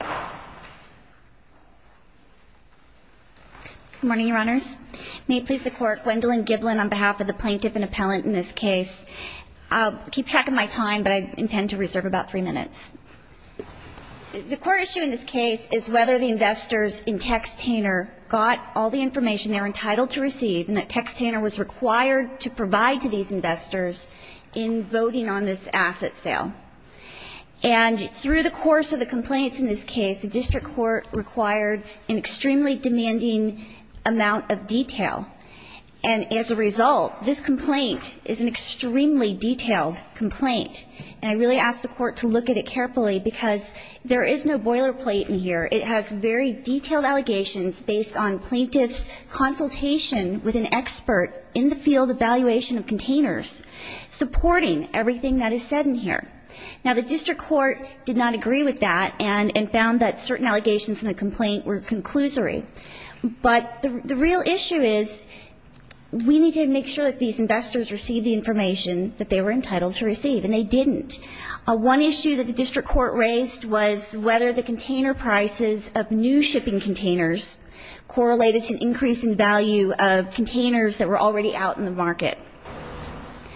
Good morning, Your Honors. May it please the Court, Gwendolyn Giblin on behalf of the Plaintiff and Appellant in this case. I'll keep track of my time, but I intend to reserve about three minutes. The court issue in this case is whether the investors in Textainer got all the information they were entitled to receive and that Textainer was required to provide to these investors in voting on this asset sale. And through the course of the complaints in this case, the district court required an extremely demanding amount of detail. And as a result, this complaint is an extremely detailed complaint. And I really ask the court to look at it carefully because there is no boilerplate in here. It has very detailed allegations based on plaintiff's consultation with an expert in the field of valuation of containers, supporting everything that is said in here. Now, the district court did not agree with that and found that certain allegations in the complaint were conclusory. But the real issue is we need to make sure that these investors receive the information that they were entitled to receive. And they didn't. One issue that the district court raised was whether the container prices of new shipping containers correlated to an increase in value of containers that were already out in the market.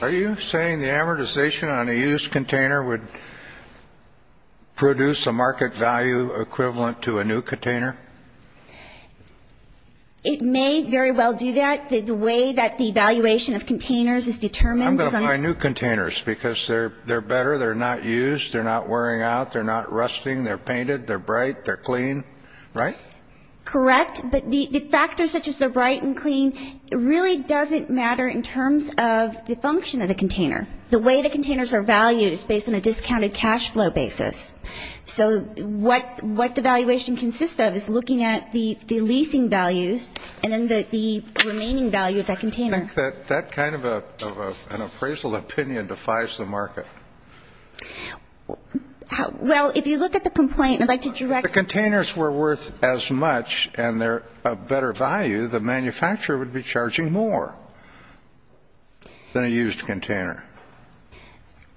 Are you saying the amortization on a used container would produce a market value equivalent to a new container? It may very well do that. The way that the valuation of containers is determined I'm going to buy new containers because they're better, they're not used, they're not wearing out, they're not rusting, they're painted, they're bright, they're clean. Right? Correct. But the factors such as the bright and clean really doesn't matter in terms of the function of the container. The way the containers are valued is based on a discounted cash flow basis. So what the valuation consists of is looking at the leasing values and then the remaining value of that container. I think that that kind of an appraisal opinion defies the market. Well, if you look at the complaint I'd like to direct if the containers were worth as much and they're a better value, the manufacturer would be charging more than a used container.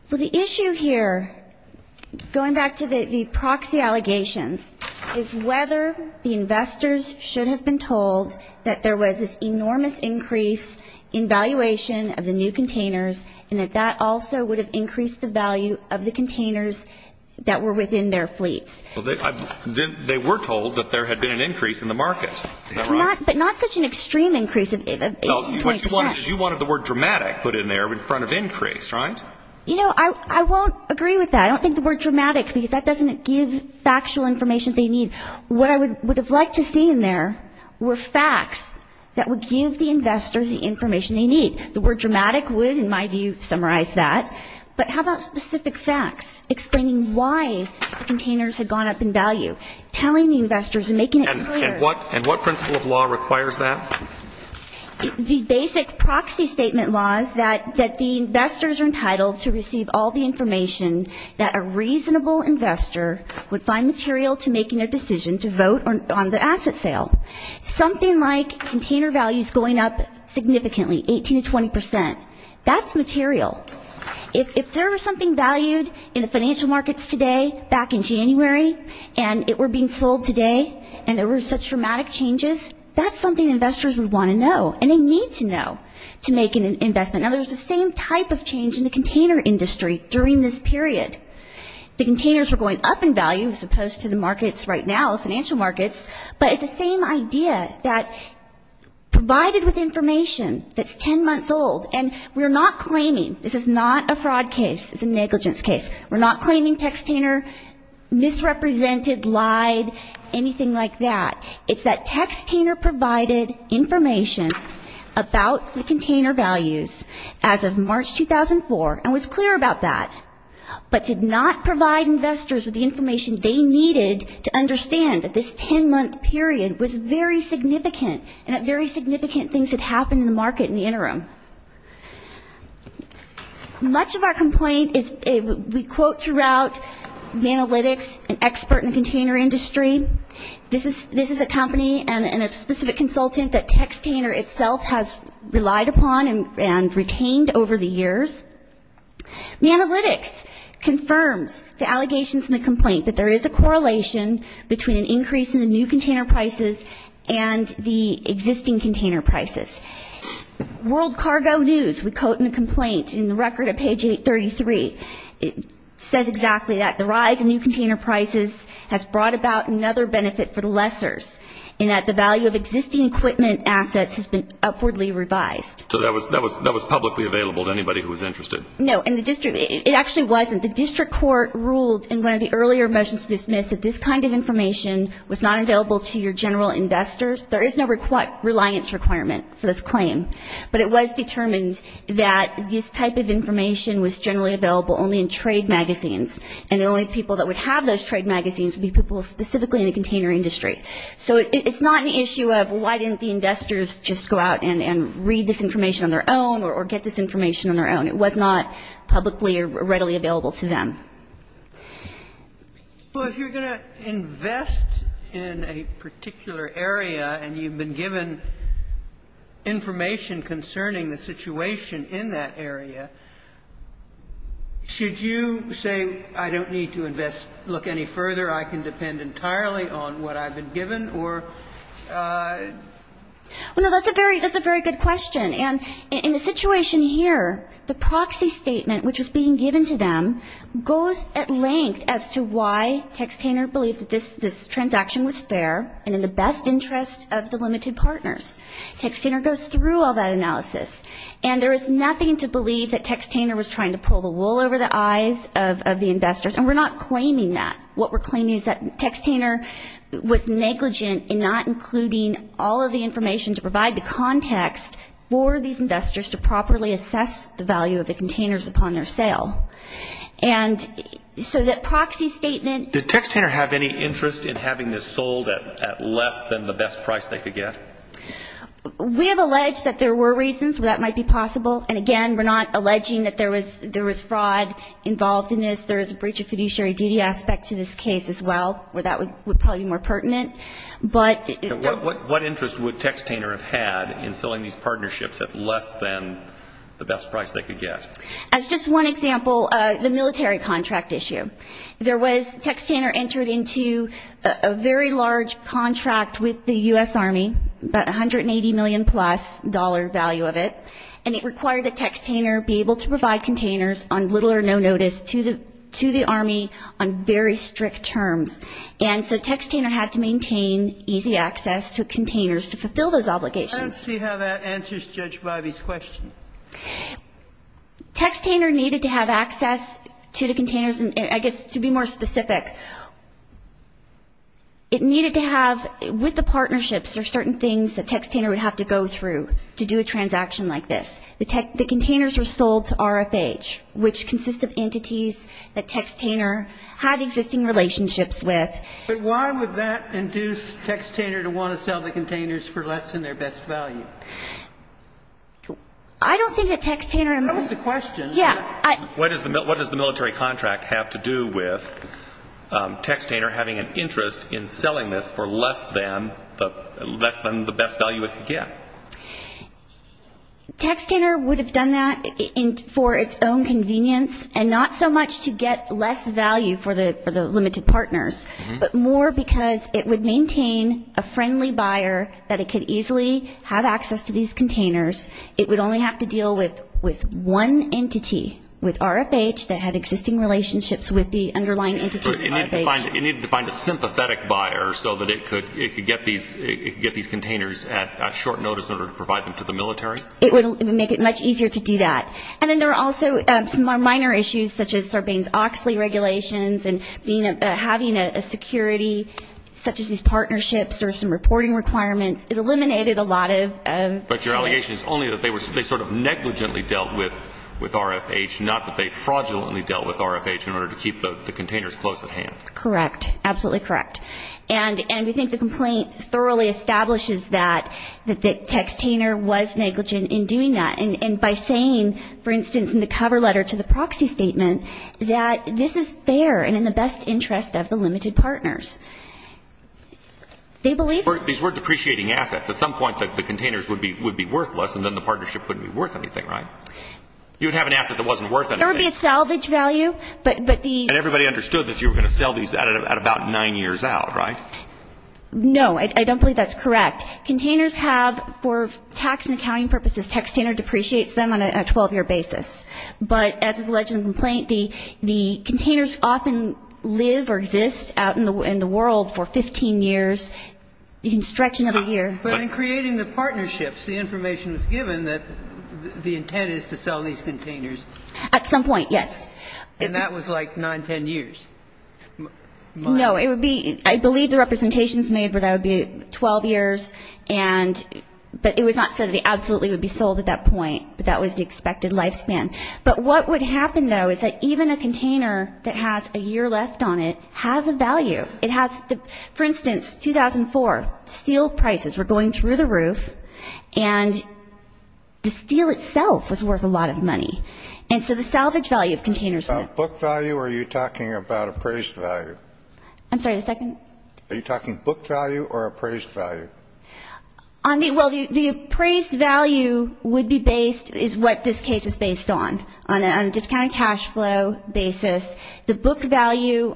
Well, the issue here, going back to the proxy allegations, is whether the investors should have been told that there was this enormous increase in valuation of the new containers and that that also would have increased the value of the containers that were within their fleets. Well, they were told that there had been an increase in the market. But not such an extreme increase of 18 to 20%. You wanted the word dramatic put in there in front of increase, right? You know, I won't agree with that. I don't think the word dramatic, because that doesn't give factual information they need. What I would have liked to see in there were facts that would give the investors the information they need. The word dramatic would, in my view, summarize that. But how about specific facts explaining why the containers had gone up in value? Telling the investors and making it clear. And what principle of law requires that? The basic proxy statement law is that the investors are entitled to receive all the information that a reasonable investor would find material to making a decision to vote on the asset sale. Something like container values going up significantly, 18 to 20%. That's material. If there was something valued in the financial markets today back in January and it were being sold today and there were such dramatic changes, that's something investors would want to know and they need to know to make an investment. Now, there's the same type of change in the container industry during this period. The containers were going up in value as opposed to the markets right now, financial markets. But it's the same idea that provided with information that's ten months old and we're not claiming, this is not a fraud case, it's a negligence case. We're not claiming Textainer misrepresented, lied, anything like that. It's that Textainer provided information about the container values as of March 2004 and was clear about that, but did not provide investors with the information they needed to understand that this ten-month period was very significant and that very significant things had happened in the market in the interim. Much of our complaint is we quote throughout the analytics an expert in the container industry. This is a company and a specific consultant that Textainer itself has relied upon and retained over the years. The analytics confirms the allegations in the complaint that there is a correlation between an increase in the new container prices and the existing container prices. World Cargo News, we quote in the complaint, in the record at page 833, it says exactly that. The rise in new container prices has brought about another benefit for the lessors in that the value of existing equipment assets has been upwardly revised. So that was publicly available to anybody who was interested. No, and the district, it actually wasn't. The district court ruled in one of the earlier motions to dismiss that this kind of information was not available to your general investors. There is no reliance requirement for this claim, but it was determined that this type of information was generally available only in trade magazines, and the only people that would have those trade magazines would be people specifically in the container industry. So it's not an issue of why didn't the investors just go out and read this information on their own or get this information on their own. It was not publicly or readily available to them. Sotomayor, if you're going to invest in a particular area and you've been given information concerning the situation in that area, should you say I don't need to invest, look any further, I can depend entirely on what I've been given, or? Well, no, that's a very good question. And in the situation here, the proxy statement which was being given to them goes at length as to why Textaner believes that this transaction was fair and in the best interest of the limited partners. Textaner goes through all that analysis, and there is nothing to believe that Textaner was trying to pull the wool over the eyes of the investors, and we're not claiming that. What we're claiming is that Textaner was negligent in not including all of the information to provide the context for these investors to properly assess the value of the containers upon their sale. And so that proxy statement ---- Did Textaner have any interest in having this sold at less than the best price they could get? We have alleged that there were reasons where that might be possible, and again, we're not alleging that there was fraud involved in this. There is a breach of fiduciary duty aspect to this case as well where that would probably be more pertinent. What interest would Textaner have had in selling these partnerships at less than the best price they could get? As just one example, the military contract issue. Textaner entered into a very large contract with the U.S. Army, about $180 million-plus value of it, and it required that Textaner be able to provide containers on little or no notice to the Army on very strict terms. And so Textaner had to maintain easy access to containers to fulfill those obligations. I don't see how that answers Judge Bivey's question. Textaner needed to have access to the containers, and I guess to be more specific, it needed to have, with the partnerships, there are certain things that Textaner would have to go through to do a transaction like this. The containers were sold to RFH, which consists of entities that Textaner had existing relationships with. But why would that induce Textaner to want to sell the containers for less than their best value? I don't think that Textaner and most of them. That was the question. Yeah. What does the military contract have to do with Textaner having an interest in selling this for less than the best value it could get? Textaner would have done that for its own convenience and not so much to get less value for the limited partners, but more because it would maintain a friendly buyer that it could easily have access to these containers. It would only have to deal with one entity, with RFH, that had existing relationships with the underlying entities at RFH. It needed to find a sympathetic buyer so that it could get these containers at short notice in order to provide them to the military? It would make it much easier to do that. And then there are also some minor issues such as Sarbanes-Oxley regulations and having a security such as these partnerships or some reporting requirements. It eliminated a lot of those. But your allegation is only that they sort of negligently dealt with RFH, not that they fraudulently dealt with RFH in order to keep the containers close at hand. Correct. Absolutely correct. And we think the complaint thoroughly establishes that Textaner was negligent in doing that, and by saying, for instance, in the cover letter to the proxy statement, that this is fair and in the best interest of the limited partners. These were depreciating assets. At some point the containers would be worthless and then the partnership wouldn't be worth anything, right? You would have an asset that wasn't worth anything. There would be a salvage value, but the ---- And everybody understood that you were going to sell these at about 9 years out, right? No. I don't believe that's correct. Containers have, for tax and accounting purposes, Textaner depreciates them on a 12-year basis. But as is alleged in the complaint, the containers often live or exist out in the world for 15 years. You can stretch another year. But in creating the partnerships, the information was given that the intent is to sell these containers. At some point, yes. And that was like 9, 10 years? No. It would be ---- I believe the representations made were that it would be 12 years, but it was not said that they absolutely would be sold at that point, but that was the expected lifespan. But what would happen, though, is that even a container that has a year left on it has a value. For instance, 2004, steel prices were going through the roof, and the steel itself was worth a lot of money. And so the salvage value of containers ---- Are you talking about book value or are you talking about appraised value? I'm sorry, the second? Are you talking book value or appraised value? Well, the appraised value would be based, is what this case is based on, on a discounted cash flow basis. The book value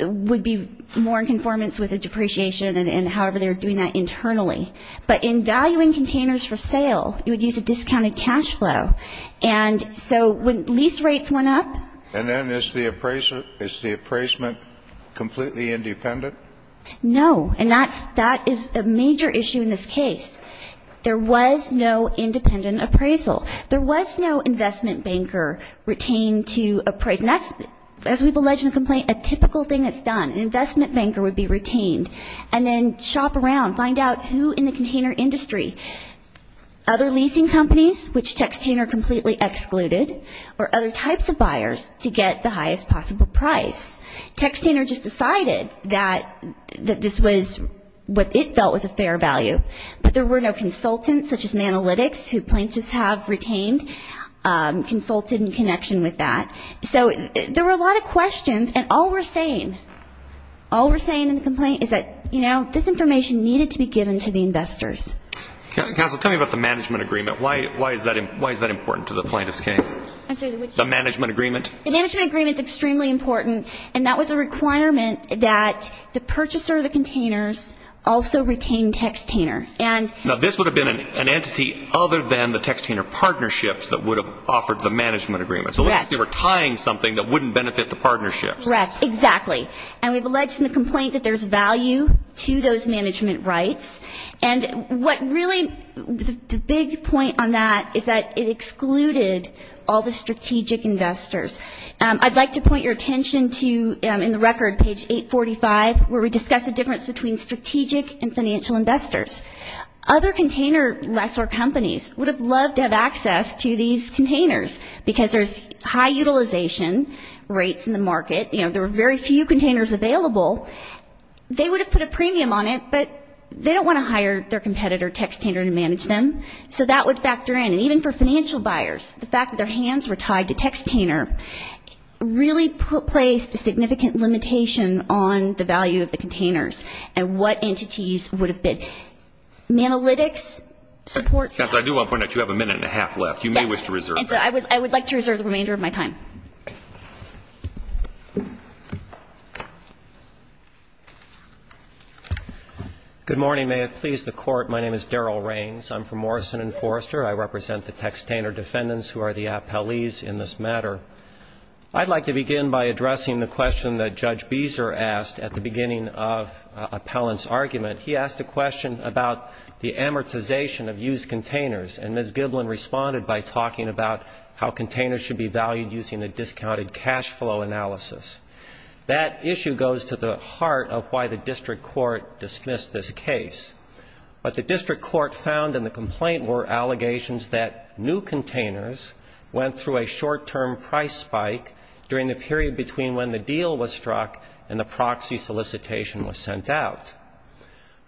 would be more in conformance with the depreciation and however they're doing that internally. But in valuing containers for sale, you would use a discounted cash flow. And so when lease rates went up ---- And then is the appraisement completely independent? No. And that is a major issue in this case. There was no independent appraisal. There was no investment banker retained to appraise. And that's, as we've alleged in the complaint, a typical thing that's done. An investment banker would be retained. And then shop around, find out who in the container industry, other leasing companies, which Textaner completely excluded, or other types of buyers to get the highest possible price. Textaner just decided that this was what it felt was a fair value. But there were no consultants, such as Manalytics, who plaintiffs have retained, consulted in connection with that. So there were a lot of questions. And all we're saying, all we're saying in the complaint is that, you know, this information needed to be given to the investors. Counsel, tell me about the management agreement. Why is that important to the plaintiff's case? The management agreement? The management agreement is extremely important. And that was a requirement that the purchaser of the containers also retain Textaner. Now, this would have been an entity other than the Textaner partnerships that would have offered the management agreement. So it looked like they were tying something that wouldn't benefit the partnerships. Correct. Exactly. And we've alleged in the complaint that there's value to those management rights. And what really the big point on that is that it excluded all the strategic investors. I'd like to point your attention to in the record, page 845, where we discuss the difference between strategic and financial investors. Other container lessor companies would have loved to have access to these containers because there's high utilization rates in the market. You know, there were very few containers available. They would have put a premium on it, but they don't want to hire their competitor, Textaner, to manage them. So that would factor in. Even for financial buyers, the fact that their hands were tied to Textaner really placed a significant limitation on the value of the containers and what entities would have been. Manalytics supports that. I do want to point out you have a minute and a half left. You may wish to reserve that. I would like to reserve the remainder of my time. Good morning. May it please the Court. My name is Daryl Raines. I'm from Morrison & Forrester. I represent the Textaner defendants who are the appellees in this matter. I'd like to begin by addressing the question that Judge Beeser asked at the beginning of Appellant's argument. He asked a question about the amortization of used containers, and Ms. Giblin responded by talking about how containers should be valued using a discounted cash flow analysis. That issue goes to the heart of why the district court dismissed this case. What the district court found in the complaint were allegations that new containers went through a short-term price spike during the period between when the deal was struck and the proxy solicitation was sent out.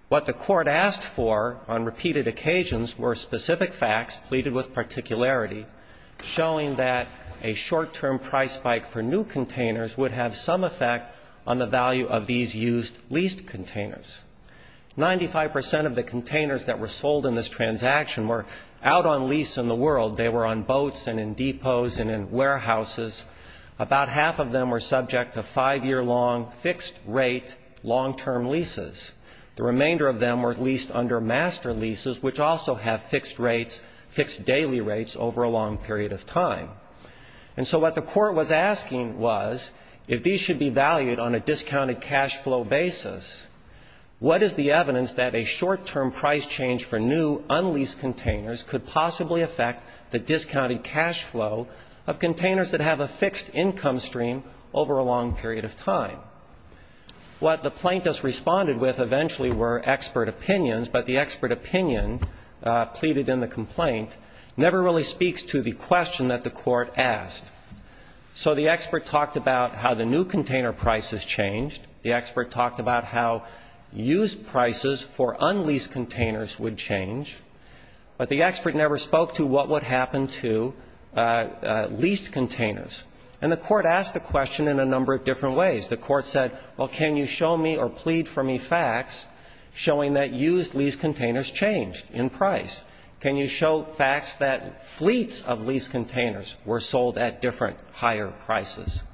What the court asked for on repeated occasions were specific facts pleaded with particularity, showing that a short-term price spike for new containers would have some effect on the value of these used leased containers. Ninety-five percent of the containers that were sold in this transaction were out on lease in the world. They were on boats and in depots and in warehouses. About half of them were subject to five-year-long fixed-rate long-term leases. The remainder of them were leased under master leases, which also have fixed rates, fixed daily rates over a long period of time. And so what the court was asking was if these should be valued on a discounted cash flow basis, what is the evidence that a short-term price change for new, unleased containers could possibly affect the discounted cash flow of containers that have a fixed income stream over a long period of time? What the plaintiffs responded with eventually were expert opinions, but the expert opinion pleaded in the complaint never really speaks to the question that the court asked. So the expert talked about how the new container prices changed. The expert talked about how used prices for unleased containers would change. But the expert never spoke to what would happen to leased containers. And the court asked the question in a number of different ways. The court said, well, can you show me or plead for me facts showing that used leased containers changed in price? Can you show facts that fleets of leased containers were sold at different higher prices?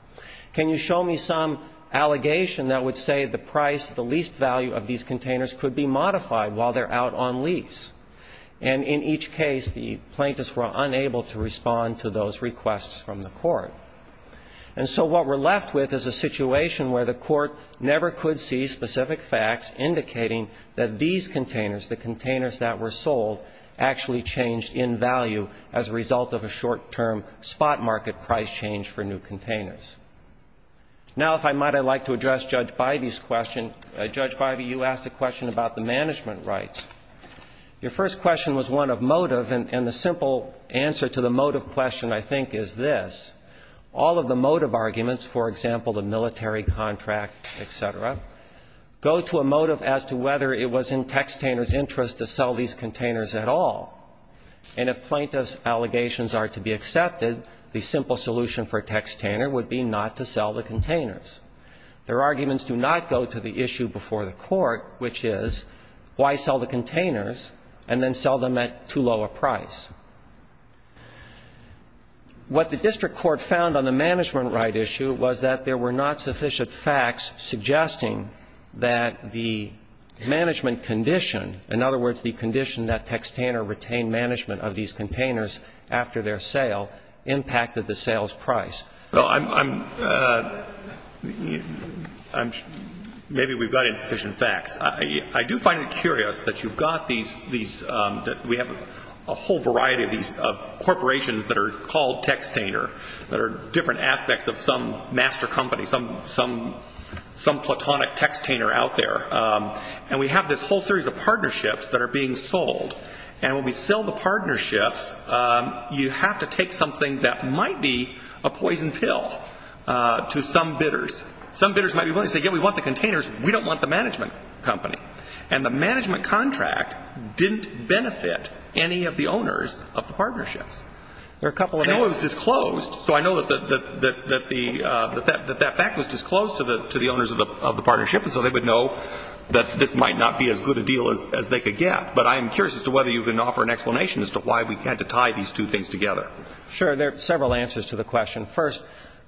Can you show me some allegation that would say the price, the leased value of these containers could be modified while they're out on lease? And in each case, the plaintiffs were unable to respond to those requests from the court. And so what we're left with is a situation where the court never could see specific facts indicating that these containers, the containers that were sold, actually changed in value as a result of a short-term spot market price change for new containers. Now, if I might, I'd like to address Judge Bybee's question. Judge Bybee, you asked a question about the management rights. Your first question was one of motive, and the simple answer to the motive question, I think, is this. All of the motive arguments, for example, the military contract, et cetera, go to a motive as to whether it was in textainer's interest to sell these containers at all. And if plaintiff's allegations are to be accepted, the simple solution for a textainer would be not to sell the containers. Their arguments do not go to the issue before the court, which is why sell the containers and then sell them at too low a price. What the district court found on the management right issue was that there were not sufficient facts suggesting that the management condition, in other words, the condition that textainer retained management of these containers after their sale, impacted the sales price. Well, I'm, maybe we've got insufficient facts. I do find it curious that you've got these, that we have a whole variety of these corporations that are called textainer, that are different aspects of some master company, some platonic textainer out there. And we have this whole series of partnerships that are being sold. And when we sell the partnerships, you have to take something that might be a poison pill to some bidders. Some bidders might be willing to say, yeah, we want the containers. We don't want the management company. And the management contract didn't benefit any of the owners of the partnerships. There are a couple of them. I know it was disclosed. So I know that that fact was disclosed to the owners of the partnership, and so they would know that this might not be as good a deal as they could get. But I'm curious as to whether you can offer an explanation as to why we had to tie these two things together. Sure. There are several answers to the question. First,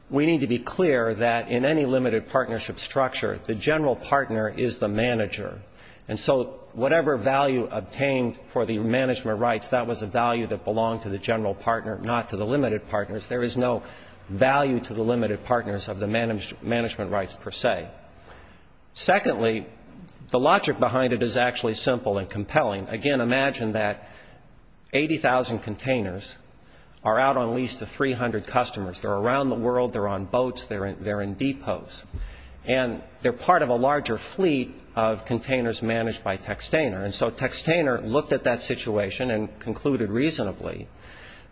we need to be clear that in any limited partnership structure, the general partner is the manager. And so whatever value obtained for the management rights, that was a value that belonged to the general partner, not to the limited partners. There is no value to the limited partners of the management rights per se. Secondly, the logic behind it is actually simple and compelling. Again, imagine that 80,000 containers are out on lease to 300 customers. They're around the world. They're on boats. They're in depots. And they're part of a larger fleet of containers managed by Textaner. And so Textaner looked at that situation and concluded reasonably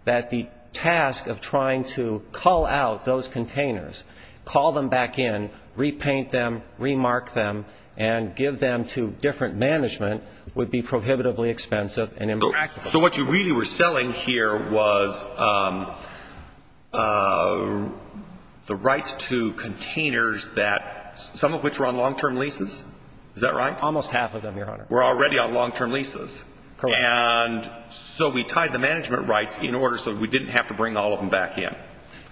that the task of trying to cull out those containers, call them back in, repaint them, remark them, and give them to different management would be prohibitively expensive and impractical. So what you really were selling here was the rights to containers that some of which were on long-term leases? Is that right? Almost half of them, Your Honor. Were already on long-term leases. Correct. And so we tied the management rights in order so we didn't have to bring all of them back in.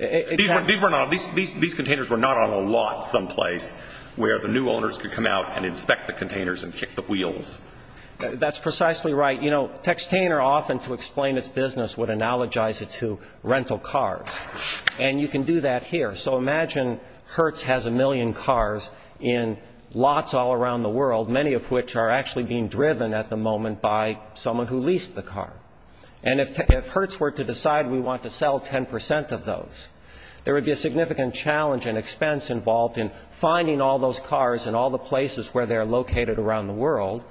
These containers were not on a lot someplace where the new owners could come out and inspect the containers and kick the wheels. That's precisely right. You know, Textaner, often to explain its business, would analogize it to rental cars. And you can do that here. So imagine Hertz has a million cars in lots all around the world, many of which are actually being driven at the moment by someone who leased the car. And if Hertz were to decide we want to sell 10 percent of those, there would be a significant challenge and expense involved in finding all those cars and all the places where they're located around the world,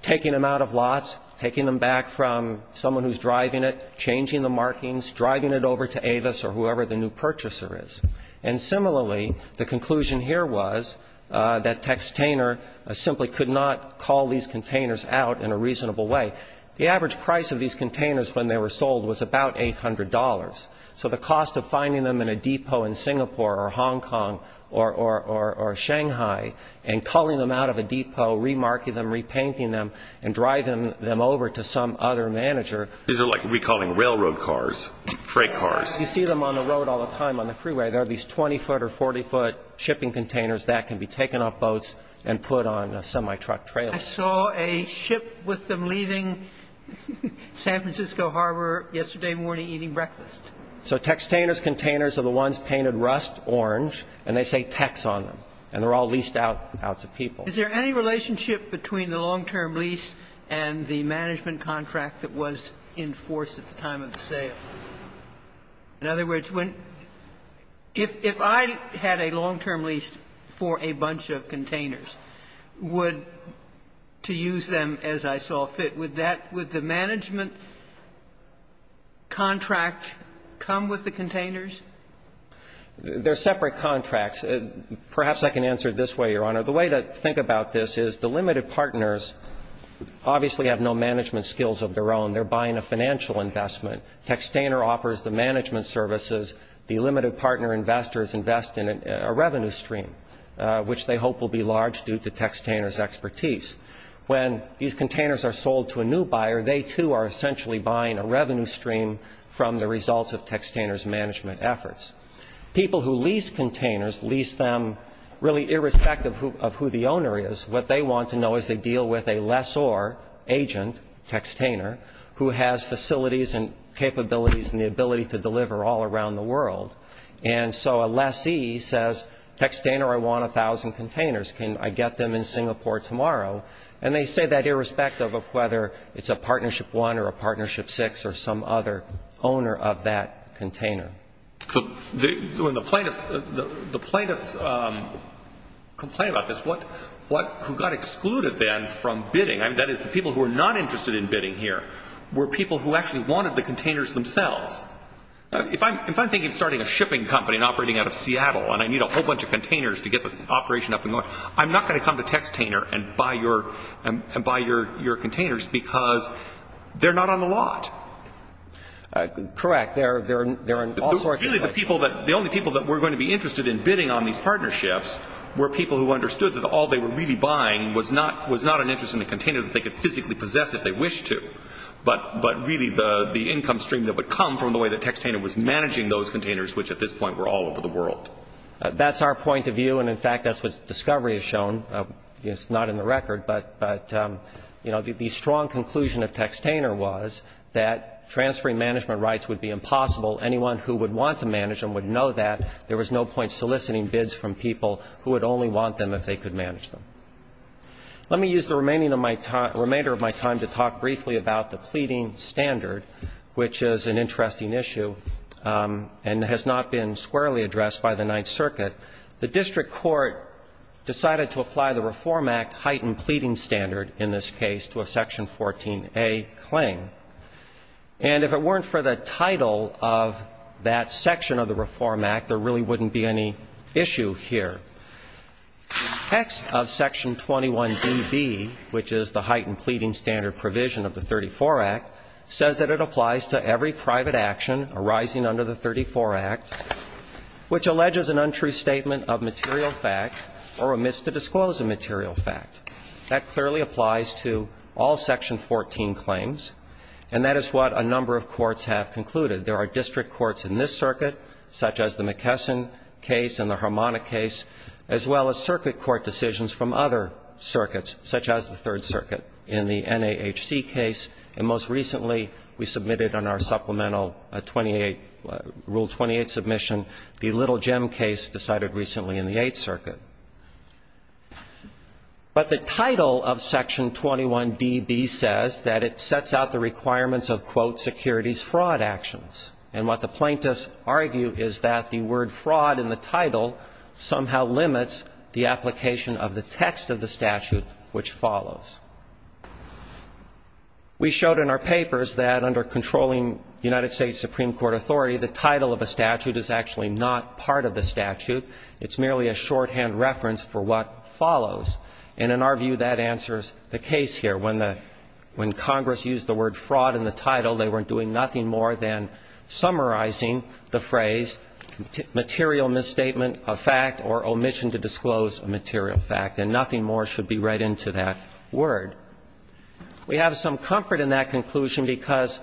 taking them out of lots, taking them back from someone who's driving it, changing the markings, driving it over to Avis or whoever the new purchaser is. And similarly, the conclusion here was that Textaner simply could not cull these containers out in a reasonable way. The average price of these containers when they were sold was about $800. So the cost of finding them in a depot in Singapore or Hong Kong or Shanghai and culling them out of a depot, remarking them, repainting them and driving them over to some other manager. These are like recalling railroad cars, freight cars. You see them on the road all the time, on the freeway. There are these 20-foot or 40-foot shipping containers that can be taken off boats and put on a semi-truck trailer. I saw a ship with them leaving San Francisco Harbor yesterday morning eating breakfast. So Textaner's containers are the ones painted rust orange, and they say Tex on them. And they're all leased out to people. Is there any relationship between the long-term lease and the management contract that was in force at the time of the sale? In other words, if I had a long-term lease for a bunch of containers, would, to use them as I saw fit, would that, would the management contract come with the containers? There are separate contracts. Perhaps I can answer it this way, Your Honor. The way to think about this is the limited partners obviously have no management skills of their own. They're buying a financial investment. Textaner offers the management services. The limited partner investors invest in a revenue stream, which they hope will be large due to Textaner's expertise. When these containers are sold to a new buyer, they, too, are essentially buying a revenue stream from the results of Textaner's management efforts. People who lease containers lease them really irrespective of who the owner is. What they want to know is they deal with a lessor agent, Textaner, who has facilities and capabilities and the ability to deliver all around the world. And so a lessee says, Textaner, I want 1,000 containers. Can I get them in Singapore tomorrow? And they say that irrespective of whether it's a Partnership 1 or a Partnership 6 or some other owner of that container. When the plaintiffs complain about this, who got excluded then from bidding, that is the people who are not interested in bidding here, were people who actually wanted the containers themselves. If I'm thinking of starting a shipping company and operating out of Seattle and I need a whole bunch of containers to get the operation up and going, I'm not going to come to Textaner and buy your containers because they're not on the lot. Correct. The only people that were going to be interested in bidding on these partnerships were people who understood that all they were really buying was not an interest in the container that they could physically possess if they wished to, but really the income stream that would come from the way that Textaner was managing those containers, which at this point were all over the world. That's our point of view, and in fact that's what Discovery has shown. It's not in the record, but, you know, the strong conclusion of Textaner was that transferring management rights would be impossible. Anyone who would want to manage them would know that. There was no point soliciting bids from people who would only want them if they could manage them. Let me use the remainder of my time to talk briefly about the pleading standard, which is an interesting issue and has not been squarely addressed by the Ninth Circuit. The district court decided to apply the Reform Act heightened pleading standard in this case to a Section 14a claim, and if it weren't for the title of that section of the Reform Act, there really wouldn't be any issue here. The text of Section 21dB, which is the heightened pleading standard provision of the 34 Act, says that it applies to every private action arising under the 34 Act, which alleges an untrue statement of material fact or omits to disclose a material fact. That clearly applies to all Section 14 claims, and that is what a number of courts have concluded. There are district courts in this circuit, such as the McKesson case and the Harmona case, as well as circuit court decisions from other circuits, such as the Third Circuit in the NAHC case, and most recently we submitted on our supplemental 28, Rule 28 submission, the Little Jem case decided recently in the Eighth Circuit. But the title of Section 21dB says that it sets out the requirements of, quote, securities fraud actions. And what the plaintiffs argue is that the word fraud in the title somehow limits the application of the text of the statute, which follows. We showed in our papers that under controlling United States Supreme Court authority, the title of a statute is actually not part of the statute. It's merely a shorthand reference for what follows. And in our view, that answers the case here. When Congress used the word fraud in the title, they were doing nothing more than summarizing the phrase material misstatement of fact or omission to disclose a material fact, and nothing more should be read into that word. We have some comfort in that conclusion because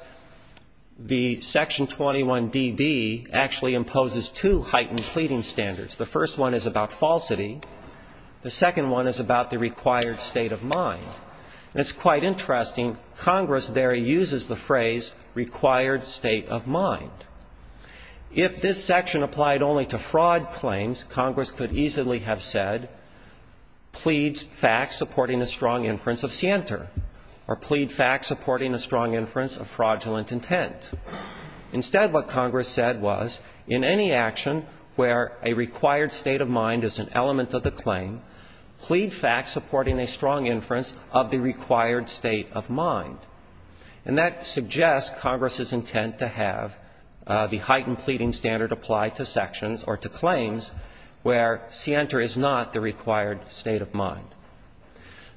the Section 21dB actually imposes two heightened pleading standards. The first one is about falsity. The second one is about the required state of mind. And it's quite interesting, Congress there uses the phrase required state of mind. If this section applied only to fraud claims, Congress could easily have said, pleads facts supporting a strong inference of scienter, or plead facts supporting a strong inference of fraudulent intent. Instead, what Congress said was, in any action where a required state of mind is an element of the claim, plead facts supporting a strong inference of the required state of mind. And that suggests Congress's intent to have the heightened pleading standard apply to sections or to claims where scienter is not the required state of mind.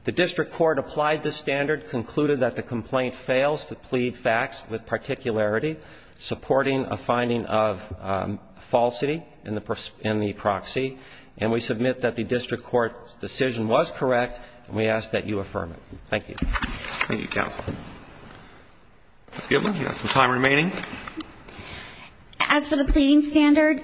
The district court applied this standard, concluded that the complaint fails to plead facts with particularity supporting a finding of falsity in the proxy, and we submit that the district court's decision was correct, and we ask that you affirm it. Thank you. Roberts. Thank you, counsel. Ms. Goodman, you have some time remaining. As for the pleading standard,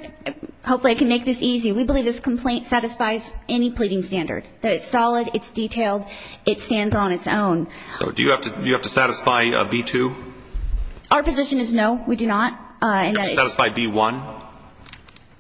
hopefully I can make this easy. We believe this complaint satisfies any pleading standard, that it's solid, it's detailed, it stands on its own. Do you have to satisfy B-2? Our position is no, we do not. Do you have to satisfy B-1?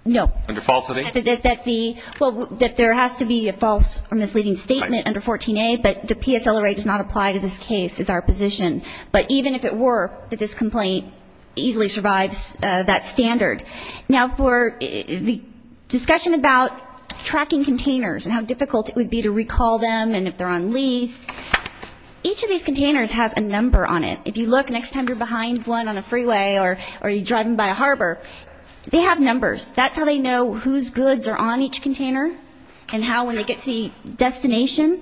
No. Under falsehooding? That the, well, that there has to be a false or misleading statement under 14A, but the PSLRA does not apply to this case is our position. But even if it were, this complaint easily survives that standard. Now, for the discussion about tracking containers and how difficult it would be to recall them and if they're on lease, each of these containers has a number on it. If you look, next time you're behind one on the freeway or you're driving by a harbor, they have numbers. That's how they know whose goods are on each container and how, when they get to the destination,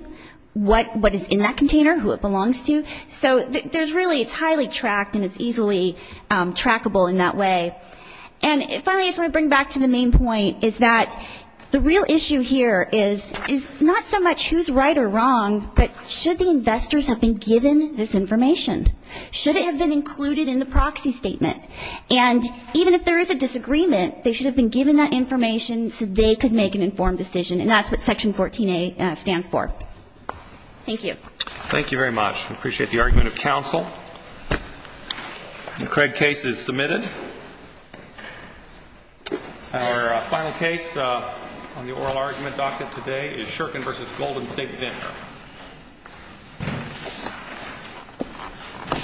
what is in that container, who it belongs to. So there's really, it's highly tracked and it's easily trackable in that way. And finally, I just want to bring back to the main point is that the real issue here is not so much who's right or wrong, but should the investors have been given this information? Should it have been included in the proxy statement? And even if there is a disagreement, they should have been given that information so they could make an informed decision, and that's what Section 14A stands for. Thank you. Thank you very much. We appreciate the argument of counsel. The Craig case is submitted. Our final case on the oral argument docket today is Shurkin v. Golden State Vendor.